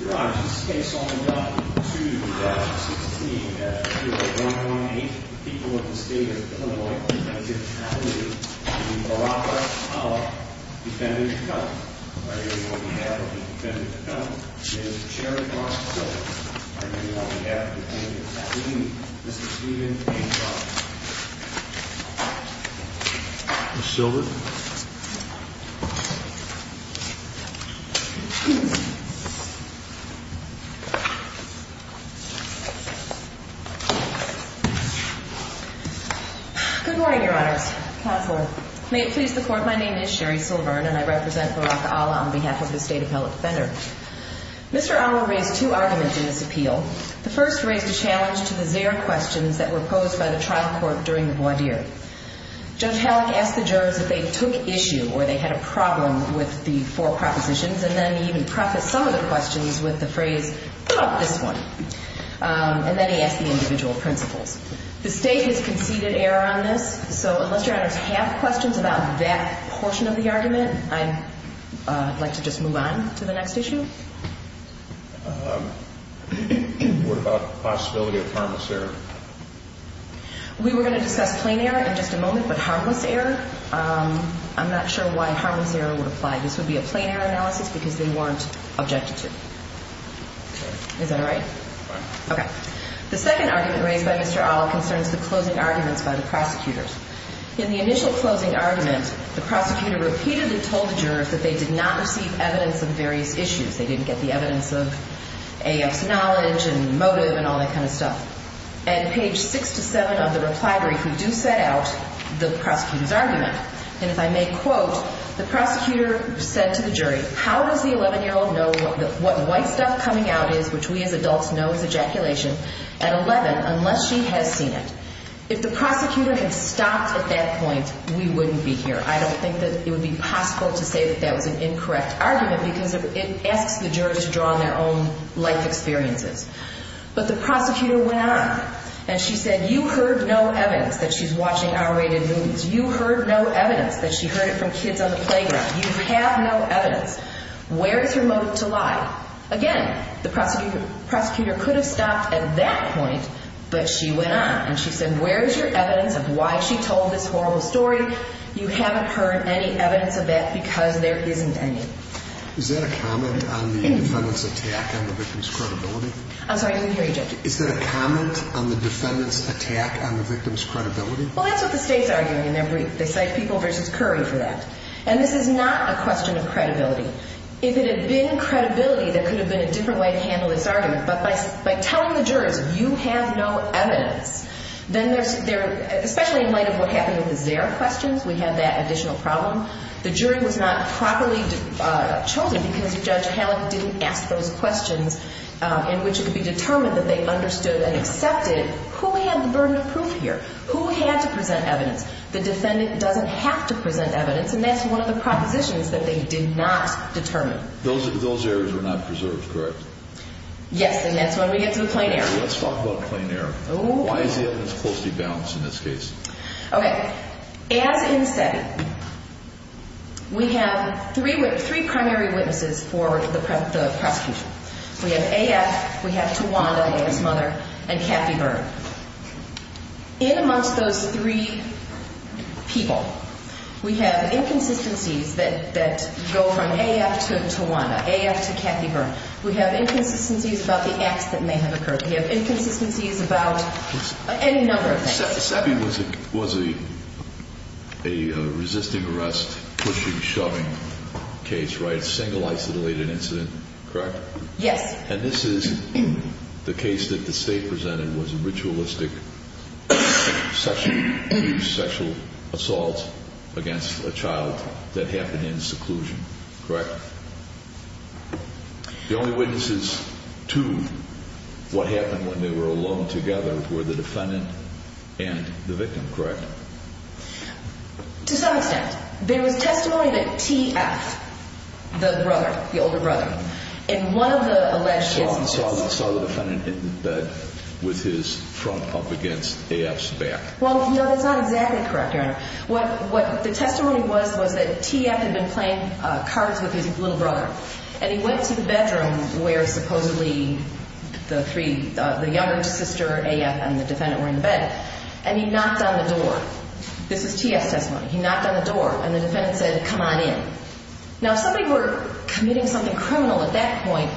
Your Honor, this case only got to the 16th after a 1-1-8. People of the State of Illinois presented an attorney to the Baraka of Defendant McCutcheon, on behalf of the Defendant McCutcheon. It is the Chair of the Court of Appeals, on behalf of the Defendant's Attorney, Mr. Steven A. McCutcheon. Ms. Silver? Good morning, Your Honors. Counselor, may it please the Court, my name is Sherry Silver, and I represent Baraka Olla on behalf of the State Appellate Defender. Mr. Olla raised two arguments in this appeal. The first raised a challenge to the zero questions that were posed by the trial court during the voir dire. Judge Hallock asked the jurors if they took issue or they had a problem with the four propositions, and then he even prefaced some of the questions with the phrase, this one. And then he asked the individual principles. The State has conceded error on this, so unless Your Honors have questions about that portion of the argument, I'd like to just move on to the next issue. What about the possibility of harmless error? We were going to discuss plain error in just a moment, but harmless error, I'm not sure why harmless error would apply. This would be a plain error analysis because they weren't objected to. Is that all right? Okay. The second argument raised by Mr. Olla concerns the closing arguments by the prosecutors. In the initial closing argument, the prosecutor repeatedly told the jurors that they did not receive evidence of various issues. They didn't get the evidence of AF's knowledge and motive and all that kind of stuff. And page six to seven of the reply brief, we do set out the prosecutor's argument. And if I may quote, the prosecutor said to the jury, how does the 11-year-old know what white stuff coming out is, which we as adults know is ejaculation, at 11 unless she has seen it? If the prosecutor had stopped at that point, we wouldn't be here. I don't think that it would be possible to say that that was an incorrect argument because it asks the jurors to draw on their own life experiences. But the prosecutor went on and she said, you heard no evidence that she's watching R-rated movies. You heard no evidence that she heard it from kids on the playground. You have no evidence. Where is her motive to lie? Again, the prosecutor could have stopped at that point, but she went on and she said, where is your evidence of why she told this horrible story? You haven't heard any evidence of that because there isn't any. Is that a comment on the defendant's attack on the victim's credibility? I'm sorry, I didn't hear you, Judge. Is that a comment on the defendant's attack on the victim's credibility? Well, that's what the state's arguing in their brief. They cite People v. Curry for that. And this is not a question of credibility. If it had been credibility, there could have been a different way to handle this argument. But by telling the jurors, you have no evidence, then there's – especially in light of what happened with the Zare questions, we have that additional problem. The jury was not properly chosen because Judge Hallock didn't ask those questions in which it could be determined that they understood and accepted who had the burden of proof here, who had to present evidence. The defendant doesn't have to present evidence, and that's one of the propositions that they did not determine. Those areas were not preserved, correct? Yes, and that's when we get to the plein air. Let's talk about plein air. Why is it that it's supposed to be balanced in this case? Okay. As in SETI, we have three primary witnesses for the prosecution. We have A.F., we have Tawanda, A.F.'s mother, and Kathy Byrne. In amongst those three people, we have inconsistencies that go from A.F. to Tawanda, A.F. to Kathy Byrne. We have inconsistencies about the acts that may have occurred. We have inconsistencies about any number of things. SETI was a resisting arrest, pushing, shoving case, right? Single isolated incident, correct? Yes. And this is the case that the State presented was a ritualistic sexual assault against a child that happened in seclusion, correct? The only witnesses to what happened when they were alone together were the defendant and the victim, correct? To some extent. There was testimony that T.F., the brother, the older brother, in one of the alleged incidents Saw the defendant in bed with his front pump against A.F.'s back. Well, no, that's not exactly correct, Your Honor. What the testimony was, was that T.F. had been playing cards with his little brother. And he went to the bedroom where supposedly the three, the younger sister, A.F., and the defendant were in bed. And he knocked on the door. This is T.F.'s testimony. He knocked on the door and the defendant said, come on in. Now, if somebody were committing something criminal at that point,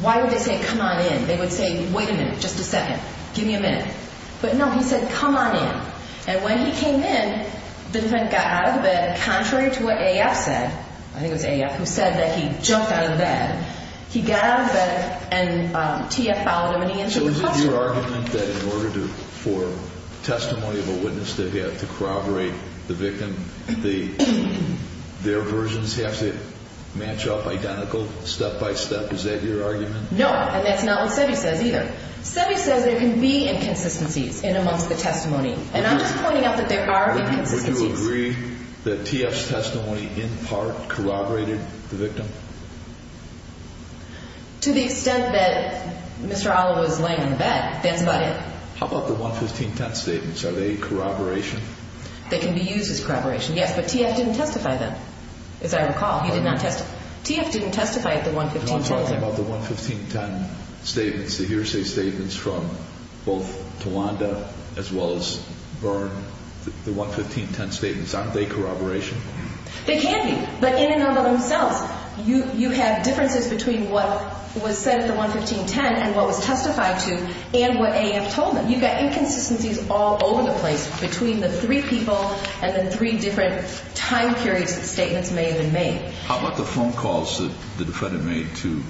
why would they say, come on in? They would say, wait a minute, just a second, give me a minute. But no, he said, come on in. And when he came in, the defendant got out of the bed, contrary to what A.F. said, I think it was A.F. who said that he jumped out of the bed. He got out of the bed and T.F. followed him and he entered the classroom. So is it your argument that in order for testimony of a witness to corroborate the victim, their versions have to match up identical step by step? Is that your argument? No, and that's not what Seve says either. Seve says there can be inconsistencies in amongst the testimony. And I'm just pointing out that there are inconsistencies. Would you agree that T.F.'s testimony in part corroborated the victim? To the extent that Mr. Oliveau was laying in the bed, that's about it. How about the 11510 statements? Are they corroboration? They can be used as corroboration, yes. But T.F. didn't testify then, as I recall. He did not testify. T.F. didn't testify at the 11510. I'm talking about the 11510 statements, the hearsay statements from both Tawanda as well as Byrne. The 11510 statements, aren't they corroboration? They can be, but in and of themselves. You have differences between what was said at the 11510 and what was testified to and what A.F. told them. You've got inconsistencies all over the place between the three people and the three different time periods that statements may have been made. How about the phone calls that the defendant made to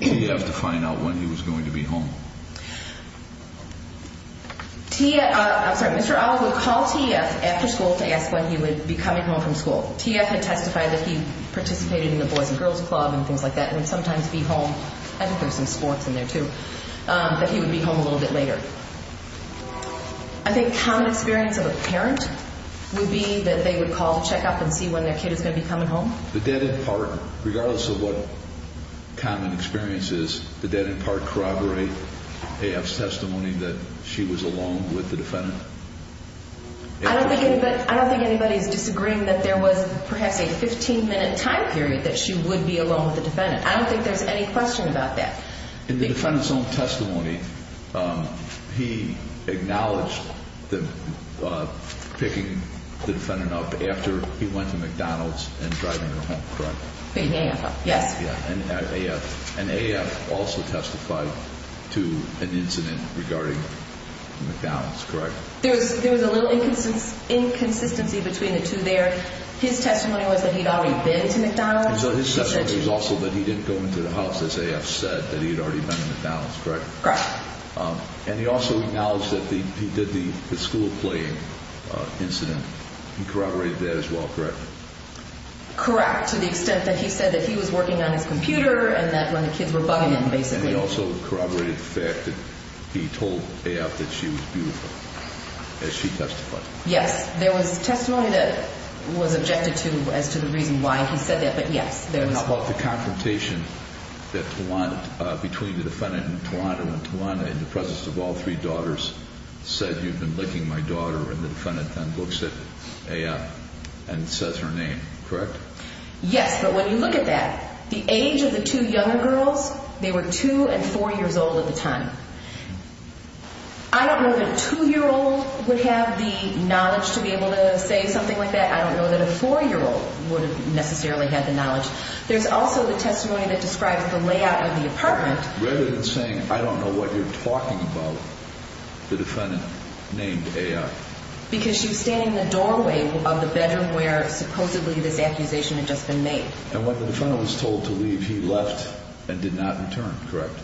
T.F. to find out when he was going to be home? Mr. Oliveau would call T.F. after school to ask when he would be coming home from school. T.F. had testified that he participated in the Boys and Girls Club and things like that and would sometimes be home. I think there's some sports in there too, that he would be home a little bit later. I think common experience of a parent would be that they would call to check up and see when their kid is going to be coming home. But that in part, regardless of what common experience is, but that in part corroborate A.F.'s testimony that she was alone with the defendant. I don't think anybody is disagreeing that there was perhaps a 15 minute time period that she would be alone with the defendant. I don't think there's any question about that. In the defendant's own testimony, he acknowledged picking the defendant up after he went to McDonald's and driving her home, correct? Picking A.F. up, yes. And A.F. also testified to an incident regarding McDonald's, correct? There was a little inconsistency between the two there. His testimony was that he had already been to McDonald's. His testimony was also that he didn't go into the house, as A.F. said, that he had already been to McDonald's, correct? Correct. And he also acknowledged that he did the school play incident. He corroborated that as well, correct? Correct, to the extent that he said that he was working on his computer and that when the kids were bugging him, basically. And he also corroborated the fact that he told A.F. that she was beautiful, as she testified. Yes, there was testimony that was objected to as to the reason why he said that, but yes, there was. About the confrontation between the defendant and Tawanda, when Tawanda, in the presence of all three daughters, said, you've been licking my daughter, and the defendant then looks at A.F. and says her name, correct? Yes, but when you look at that, the age of the two younger girls, they were two and four years old at the time. I don't know that a two-year-old would have the knowledge to be able to say something like that. I don't know that a four-year-old would have necessarily had the knowledge. There's also the testimony that describes the layout of the apartment. Rather than saying, I don't know what you're talking about, the defendant named A.F. Because she was standing in the doorway of the bedroom where, supposedly, this accusation had just been made. And when the defendant was told to leave, he left and did not return, correct?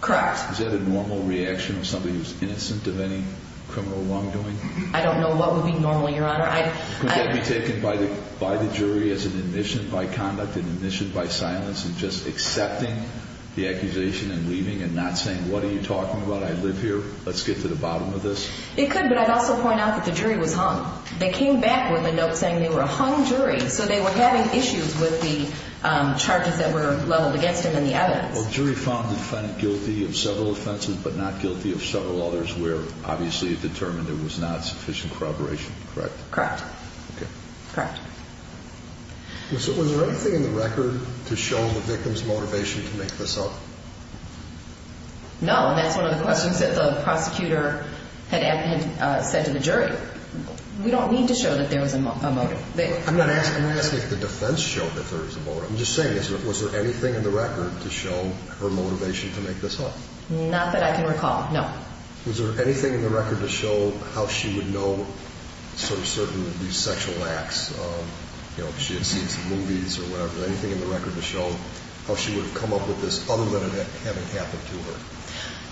Correct. Is that a normal reaction of somebody who's innocent of any criminal wrongdoing? I don't know what would be normal, Your Honor. Could that be taken by the jury as an admission by conduct, an admission by silence, and just accepting the accusation and leaving and not saying, what are you talking about? I live here. Let's get to the bottom of this. It could, but I'd also point out that the jury was hung. They came back with a note saying they were a hung jury, so they were having issues with the charges that were leveled against them and the evidence. Well, the jury found the defendant guilty of several offenses but not guilty of several others where, obviously, it determined there was not sufficient corroboration, correct? Correct. Okay. Correct. Was there anything in the record to show the victim's motivation to make this up? No, and that's one of the questions that the prosecutor had said to the jury. We don't need to show that there was a motive. I'm not asking if the defense showed that there was a motive. I'm just saying, was there anything in the record to show her motivation to make this up? Not that I can recall, no. Was there anything in the record to show how she would know certain sexual acts? You know, if she had seen some movies or whatever, anything in the record to show how she would have come up with this other than it having happened to her?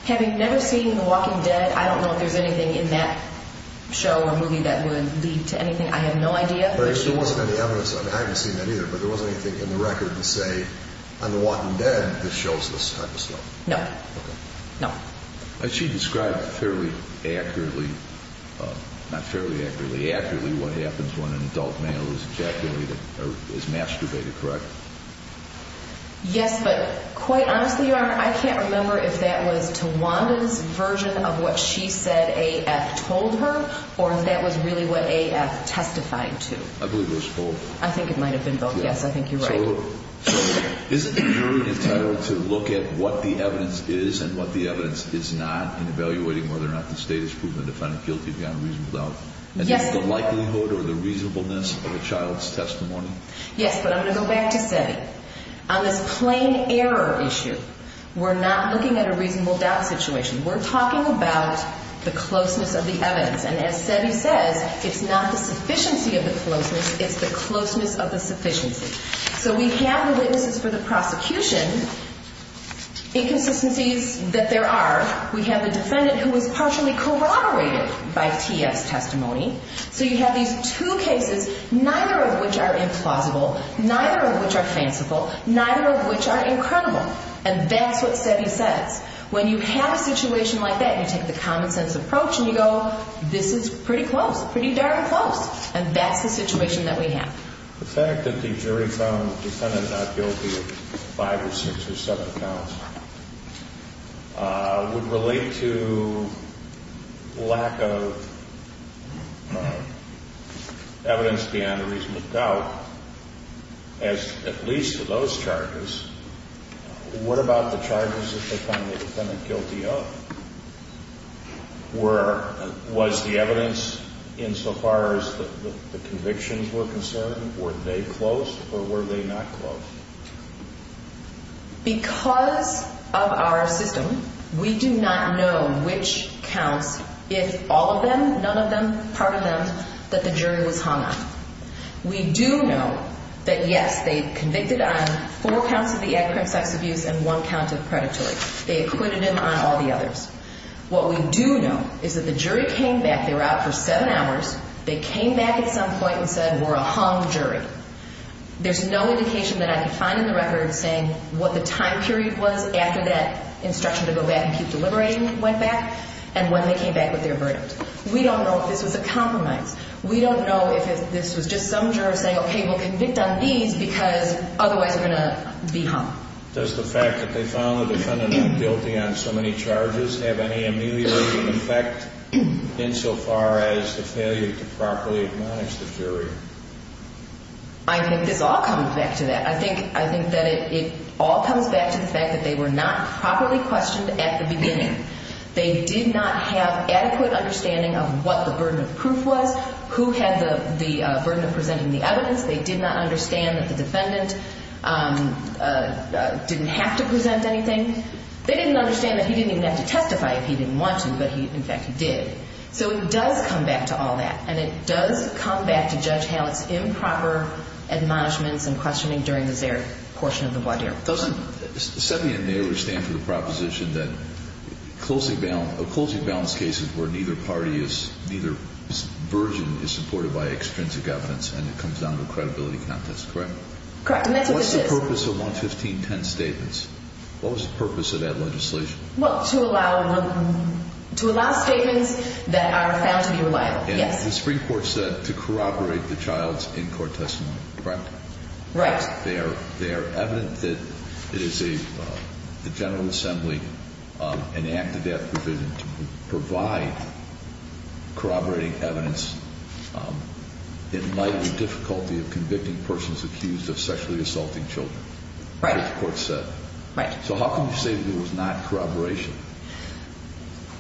Having never seen The Walking Dead, I don't know if there's anything in that show or movie that would lead to anything. I have no idea. There wasn't any evidence. I haven't seen that either, but there wasn't anything in the record to say, on The Walking Dead, this shows this type of stuff. No. Okay. No. She described fairly accurately, not fairly accurately, accurately what happens when an adult male is ejaculated or is masturbated, correct? Yes, but quite honestly, Your Honor, I can't remember if that was Tawanda's version of what she said AF told her or if that was really what AF testified to. I believe it was both. I think it might have been both. Yes, I think you're right. So isn't the jury entitled to look at what the evidence is and what the evidence is not in evaluating whether or not the state has proven the defendant guilty beyond reasonable doubt? Yes. Is this the likelihood or the reasonableness of a child's testimony? Yes, but I'm going to go back to Sebby. On this plain error issue, we're not looking at a reasonable doubt situation. We're talking about the closeness of the evidence, and as Sebby says, it's not the sufficiency of the closeness. It's the closeness of the sufficiency. So we have the witnesses for the prosecution, inconsistencies that there are. We have a defendant who was partially corroborated by TS testimony. So you have these two cases, neither of which are implausible, neither of which are fanciful, neither of which are incredible, and that's what Sebby says. When you have a situation like that, you take the common-sense approach and you go, this is pretty close, pretty darn close, and that's the situation that we have. The fact that the jury found the defendant not guilty of five or six or seven counts would relate to lack of evidence beyond reasonable doubt as at least to those charges. What about the charges that they found the defendant guilty of? Was the evidence insofar as the convictions were concerned, were they close or were they not close? Because of our system, we do not know which counts, if all of them, none of them, part of them, that the jury was hung on. We do know that, yes, they convicted on four counts of the ad crim sex abuse and one count of predatory. They acquitted him on all the others. What we do know is that the jury came back. They were out for seven hours. They came back at some point and said, we're a hung jury. There's no indication that I can find in the record saying what the time period was after that instruction to go back and keep deliberating went back and when they came back with their verdict. We don't know if this was a compromise. We don't know if this was just some juror saying, okay, we'll convict on these because otherwise we're going to be hung. Does the fact that they found the defendant guilty on so many charges have any ameliorating effect insofar as the failure to properly admonish the jury? I think this all comes back to that. I think that it all comes back to the fact that they were not properly questioned at the beginning. They did not have adequate understanding of what the burden of proof was, who had the burden of presenting the evidence. They did not understand that the defendant didn't have to present anything. They didn't understand that he didn't even have to testify if he didn't want to, but he, in fact, did. So it does come back to all that, and it does come back to Judge Hallett's improper admonishments and questioning during the Zarek portion of the wadir. Doesn't Sebian Mayer stand to the proposition that a closing balance case is where neither party is, neither version is supported by extrinsic evidence and it comes down to credibility contest, correct? Correct. What's the purpose of 11510 statements? What was the purpose of that legislation? Well, to allow statements that are found to be reliable, yes. And the Supreme Court said to corroborate the child's in-court testimony, correct? Right. In fact, they are evident that it is the General Assembly, an act of that provision, to provide corroborating evidence in light of the difficulty of convicting persons accused of sexually assaulting children. Right. That's what the court said. Right. So how can you say that it was not corroboration?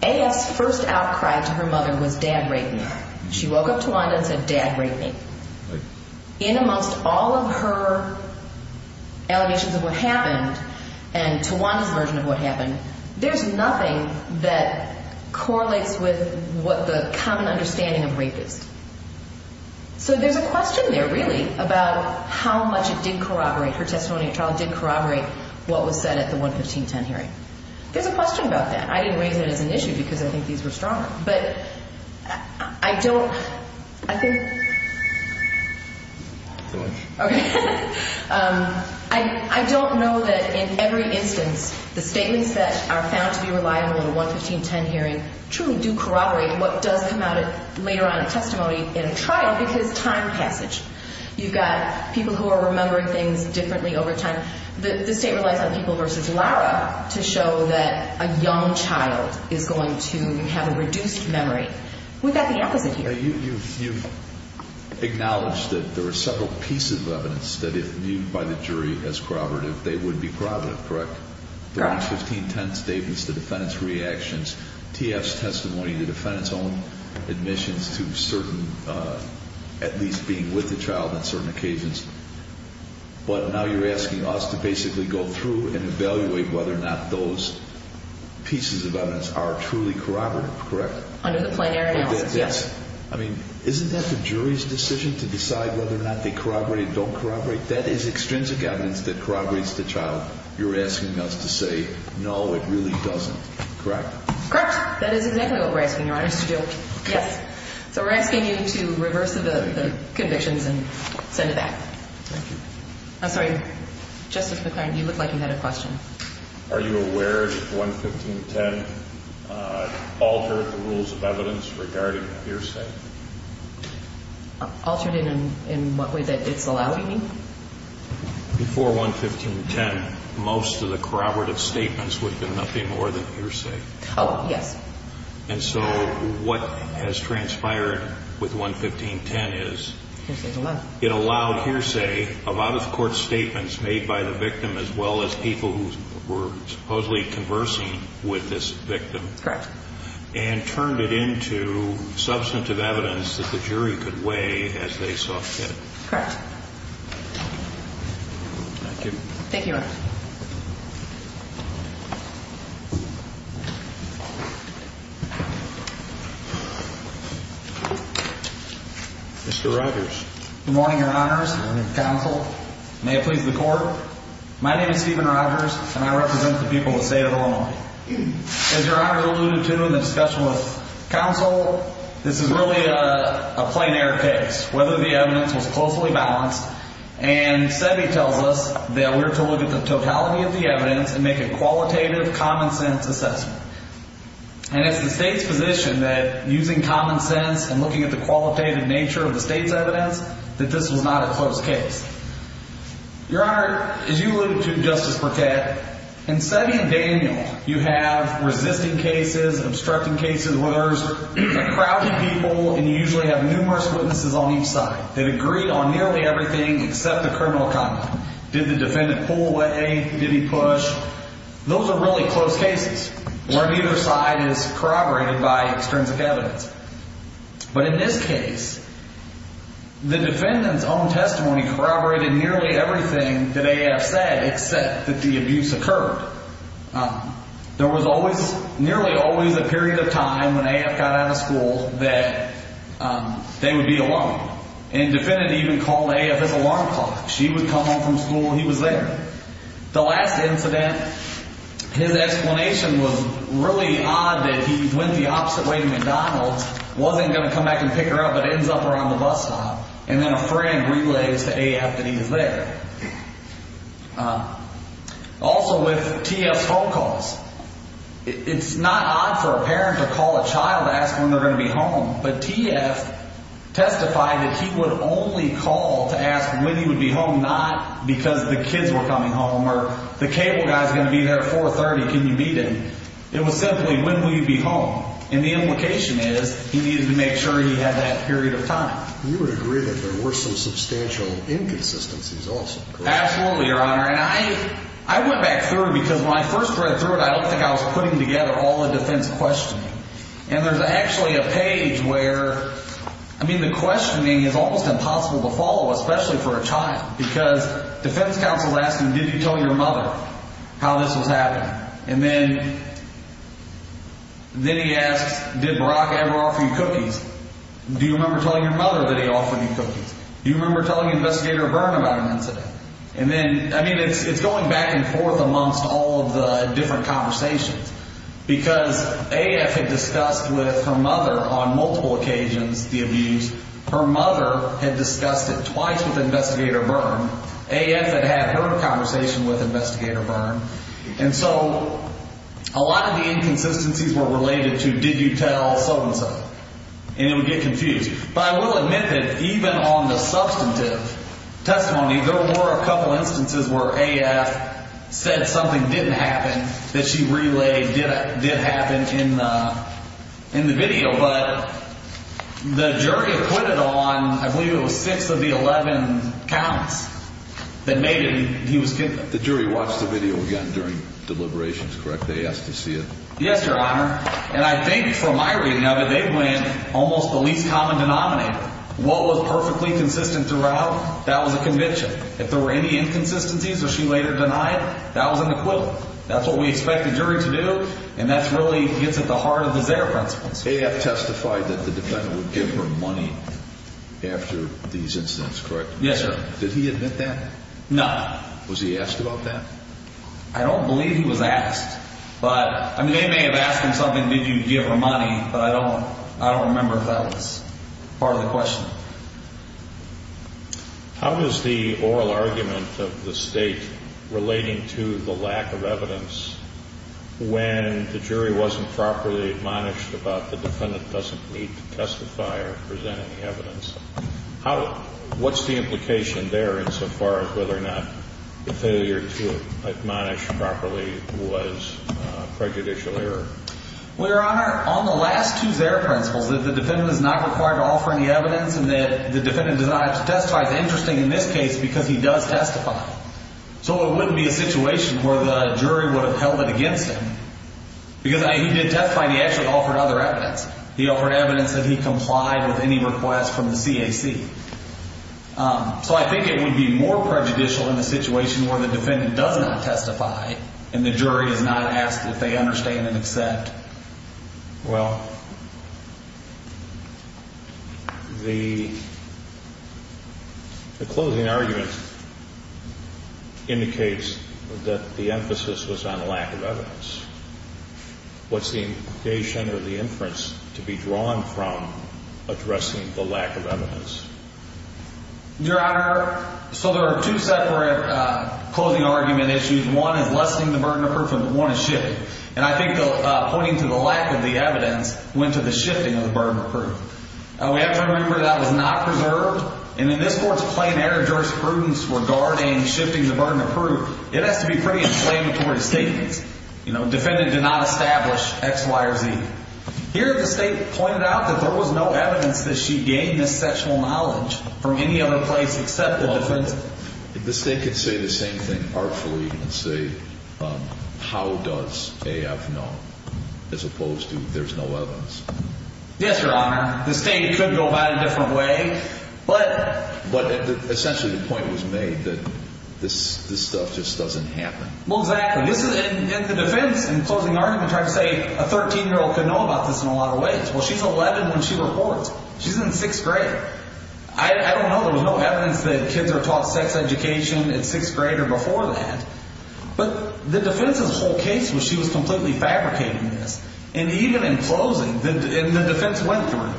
AF's first outcry to her mother was, Dad, rape me. She woke up to one and said, Dad, rape me. Right. In amongst all of her allegations of what happened and Tawanda's version of what happened, there's nothing that correlates with what the common understanding of rape is. So there's a question there, really, about how much it did corroborate, her testimony of the child did corroborate what was said at the 11510 hearing. There's a question about that. I didn't raise it as an issue because I think these were stronger. But I don't know that in every instance the statements that are found to be reliable in the 11510 hearing truly do corroborate what does come out later on in testimony in a trial because time passage. You've got people who are remembering things differently over time. The state relies on people versus Lara to show that a young child is going to have a reduced memory. We've got the opposite here. You've acknowledged that there are several pieces of evidence that if viewed by the jury as corroborative, they would be corroborative, correct? Correct. The 11510 statements, the defendant's reactions, T.F.'s testimony, the defendant's own admissions to certain, at least being with the child on certain occasions. But now you're asking us to basically go through and evaluate whether or not those pieces of evidence are truly corroborative, correct? Under the plenary analysis, yes. I mean, isn't that the jury's decision to decide whether or not they corroborate or don't corroborate? That is extrinsic evidence that corroborates the child. You're asking us to say, no, it really doesn't, correct? Correct. That is exactly what we're asking Your Honor to do, yes. Okay. So we're asking you to reverse the convictions and send it back. Thank you. I'm sorry, Justice McClaren, you looked like you had a question. Are you aware that 11510 altered the rules of evidence regarding hearsay? Altered it in what way that it's allowing you? Before 11510, most of the corroborative statements would have been nothing more than hearsay. Oh, yes. And so what has transpired with 11510 is it allowed hearsay, a lot of court statements made by the victim, as well as people who were supposedly conversing with this victim. Correct. And turned it into substantive evidence that the jury could weigh as they saw fit. Thank you. Thank you, Your Honor. Mr. Rogers. Good morning, Your Honors. Good morning, Counsel. May it please the Court. My name is Stephen Rogers, and I represent the people of the state of Illinois. As Your Honor alluded to in the discussion with Counsel, this is really a plein air case. Whether the evidence was closely balanced. And make a qualitative, common-sense assessment. And it's the state's position that using common sense and looking at the qualitative nature of the state's evidence, that this was not a close case. Your Honor, as you alluded to, Justice Burkett, in setting of Daniel, you have resisting cases, obstructing cases, where there's a crowd of people, and you usually have numerous witnesses on each side. They agreed on nearly everything except the criminal conduct. Did the defendant pull away? Did he push? Those are really close cases where neither side is corroborated by extrinsic evidence. But in this case, the defendant's own testimony corroborated nearly everything that AF said, except that the abuse occurred. There was nearly always a period of time when AF got out of school that they would be alone. And the defendant even called AF his alarm clock. She would come home from school. He was there. The last incident, his explanation was really odd that he went the opposite way to McDonald's, wasn't going to come back and pick her up, but ends up around the bus stop. And then a friend relays to AF that he was there. Also, with TF's phone calls, it's not odd for a parent to call a child to ask when they're going to be home. But TF testified that he would only call to ask when he would be home, not because the kids were coming home or the cable guy's going to be there at 4.30. Can you meet him? It was simply, when will you be home? And the implication is he needed to make sure he had that period of time. You would agree that there were some substantial inconsistencies also, correct? Absolutely, Your Honor. And I went back through it because when I first read through it, I don't think I was putting together all the defense questioning. And there's actually a page where, I mean, the questioning is almost impossible to follow, especially for a child, because defense counsel asked him, did you tell your mother how this was happening? And then he asks, did Barack ever offer you cookies? Do you remember telling your mother that he offered you cookies? Do you remember telling Investigator Byrne about an incident? And then, I mean, it's going back and forth amongst all of the different conversations because AF had discussed with her mother on multiple occasions the abuse. Her mother had discussed it twice with Investigator Byrne. AF had had her conversation with Investigator Byrne. And so a lot of the inconsistencies were related to did you tell so-and-so, and it would get confused. But I will admit that even on the substantive testimony, there were a couple instances where AF said something didn't happen that she relayed did happen in the video. But the jury acquitted on, I believe it was six of the 11 counts that made it he was convicted. The jury watched the video again during deliberations, correct? They asked to see it. Yes, Your Honor. And I think from my reading of it, they went almost the least common denominator. What was perfectly consistent throughout, that was a conviction. If there were any inconsistencies that she later denied, that was an acquittal. That's what we expect the jury to do, and that really gets at the heart of the Zegger principles. AF testified that the defendant would give her money after these incidents, correct? Yes, sir. Did he admit that? No. Was he asked about that? I don't believe he was asked. I mean, they may have asked him something, did you give her money, but I don't remember if that was part of the question. How is the oral argument of the state relating to the lack of evidence when the jury wasn't properly admonished about the defendant doesn't need to testify or present any evidence? What's the implication there insofar as whether or not the failure to admonish properly was prejudicial error? Well, Your Honor, on the last two Zegger principles, that the defendant is not required to offer any evidence and that the defendant does not have to testify is interesting in this case because he does testify. So it wouldn't be a situation where the jury would have held it against him. Because he did testify and he actually offered other evidence. He offered evidence that he complied with any request from the CAC. So I think it would be more prejudicial in a situation where the defendant does not testify and the jury is not asked if they understand and accept. Well, the closing argument indicates that the emphasis was on lack of evidence. What's the implication or the inference to be drawn from addressing the lack of evidence? Your Honor, so there are two separate closing argument issues. One is lessening the burden of proof and one is shifting. And I think pointing to the lack of the evidence went to the shifting of the burden of proof. We have to remember that was not preserved. And in this Court's plain error jurisprudence regarding shifting the burden of proof, it has to be pretty inflammatory statements. You know, defendant did not establish X, Y, or Z. Here the State pointed out that there was no evidence that she gained this sexual knowledge from any other place except the defense. If the State could say the same thing artfully and say, how does A.F. know as opposed to there's no evidence? Yes, Your Honor. The State could go about it a different way. But essentially the point was made that this stuff just doesn't happen. Well, exactly. And the defense in closing argument tried to say a 13-year-old could know about this in a lot of ways. Well, she's 11 when she reports. She's in sixth grade. I don't know. There was no evidence that kids are taught sex education in sixth grade or before that. But the defense's whole case was she was completely fabricating this. And even in closing, the defense went through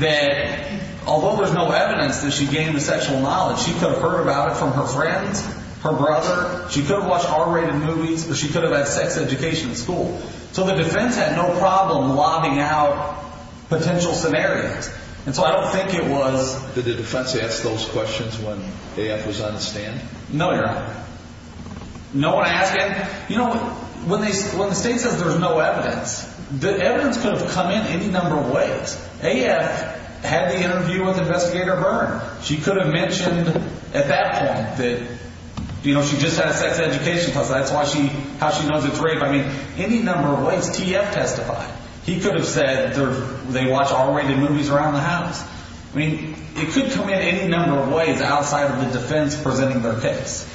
that although there's no evidence that she gained the sexual knowledge, she could have heard about it from her friends, her brother. She could have watched R-rated movies, but she could have had sex education in school. So the defense had no problem lobbying out potential scenarios. And so I don't think it was. Did the defense ask those questions when A.F. was on the stand? No, Your Honor. No one asked it. You know, when the State says there's no evidence, the evidence could have come in any number of ways. A.F. had the interview with Investigator Byrne. She could have mentioned at that point that she just had a sex education class. That's how she knows it's rape. I mean, any number of ways. T.F. testified. He could have said they watch R-rated movies around the house. I mean, it could come in any number of ways outside of the defense presenting their case.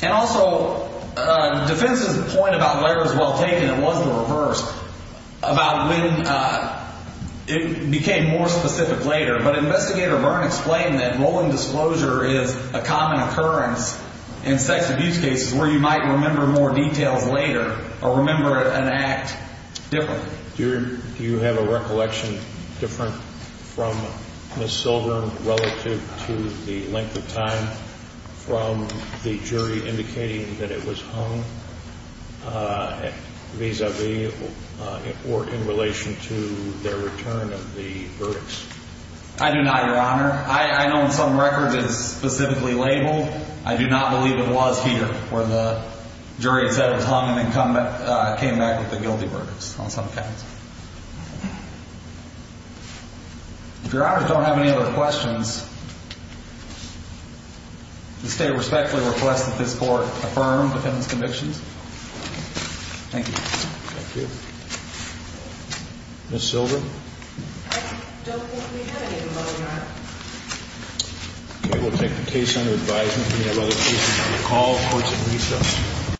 And also, defense's point about where it was well taken, it was the reverse, about when it became more specific later. But Investigator Byrne explained that role and disclosure is a common occurrence in sex abuse cases where you might remember more details later or remember an act differently. Do you have a recollection different from Ms. Silver relative to the length of time from the jury indicating that it was hung vis-a-vis or in relation to their return of the verdicts? I do not, Your Honor. I know in some records it's specifically labeled. I do not believe it was here where the jury said it was hung and then came back with the guilty verdicts on some accounts. If Your Honor don't have any other questions, the State respectfully requests that this Court affirm defendant's convictions. Thank you. Thank you. Ms. Silver? I don't believe we have any, Your Honor. Okay, we'll take the case under advisement. We have other cases on the call. Court is adjourned.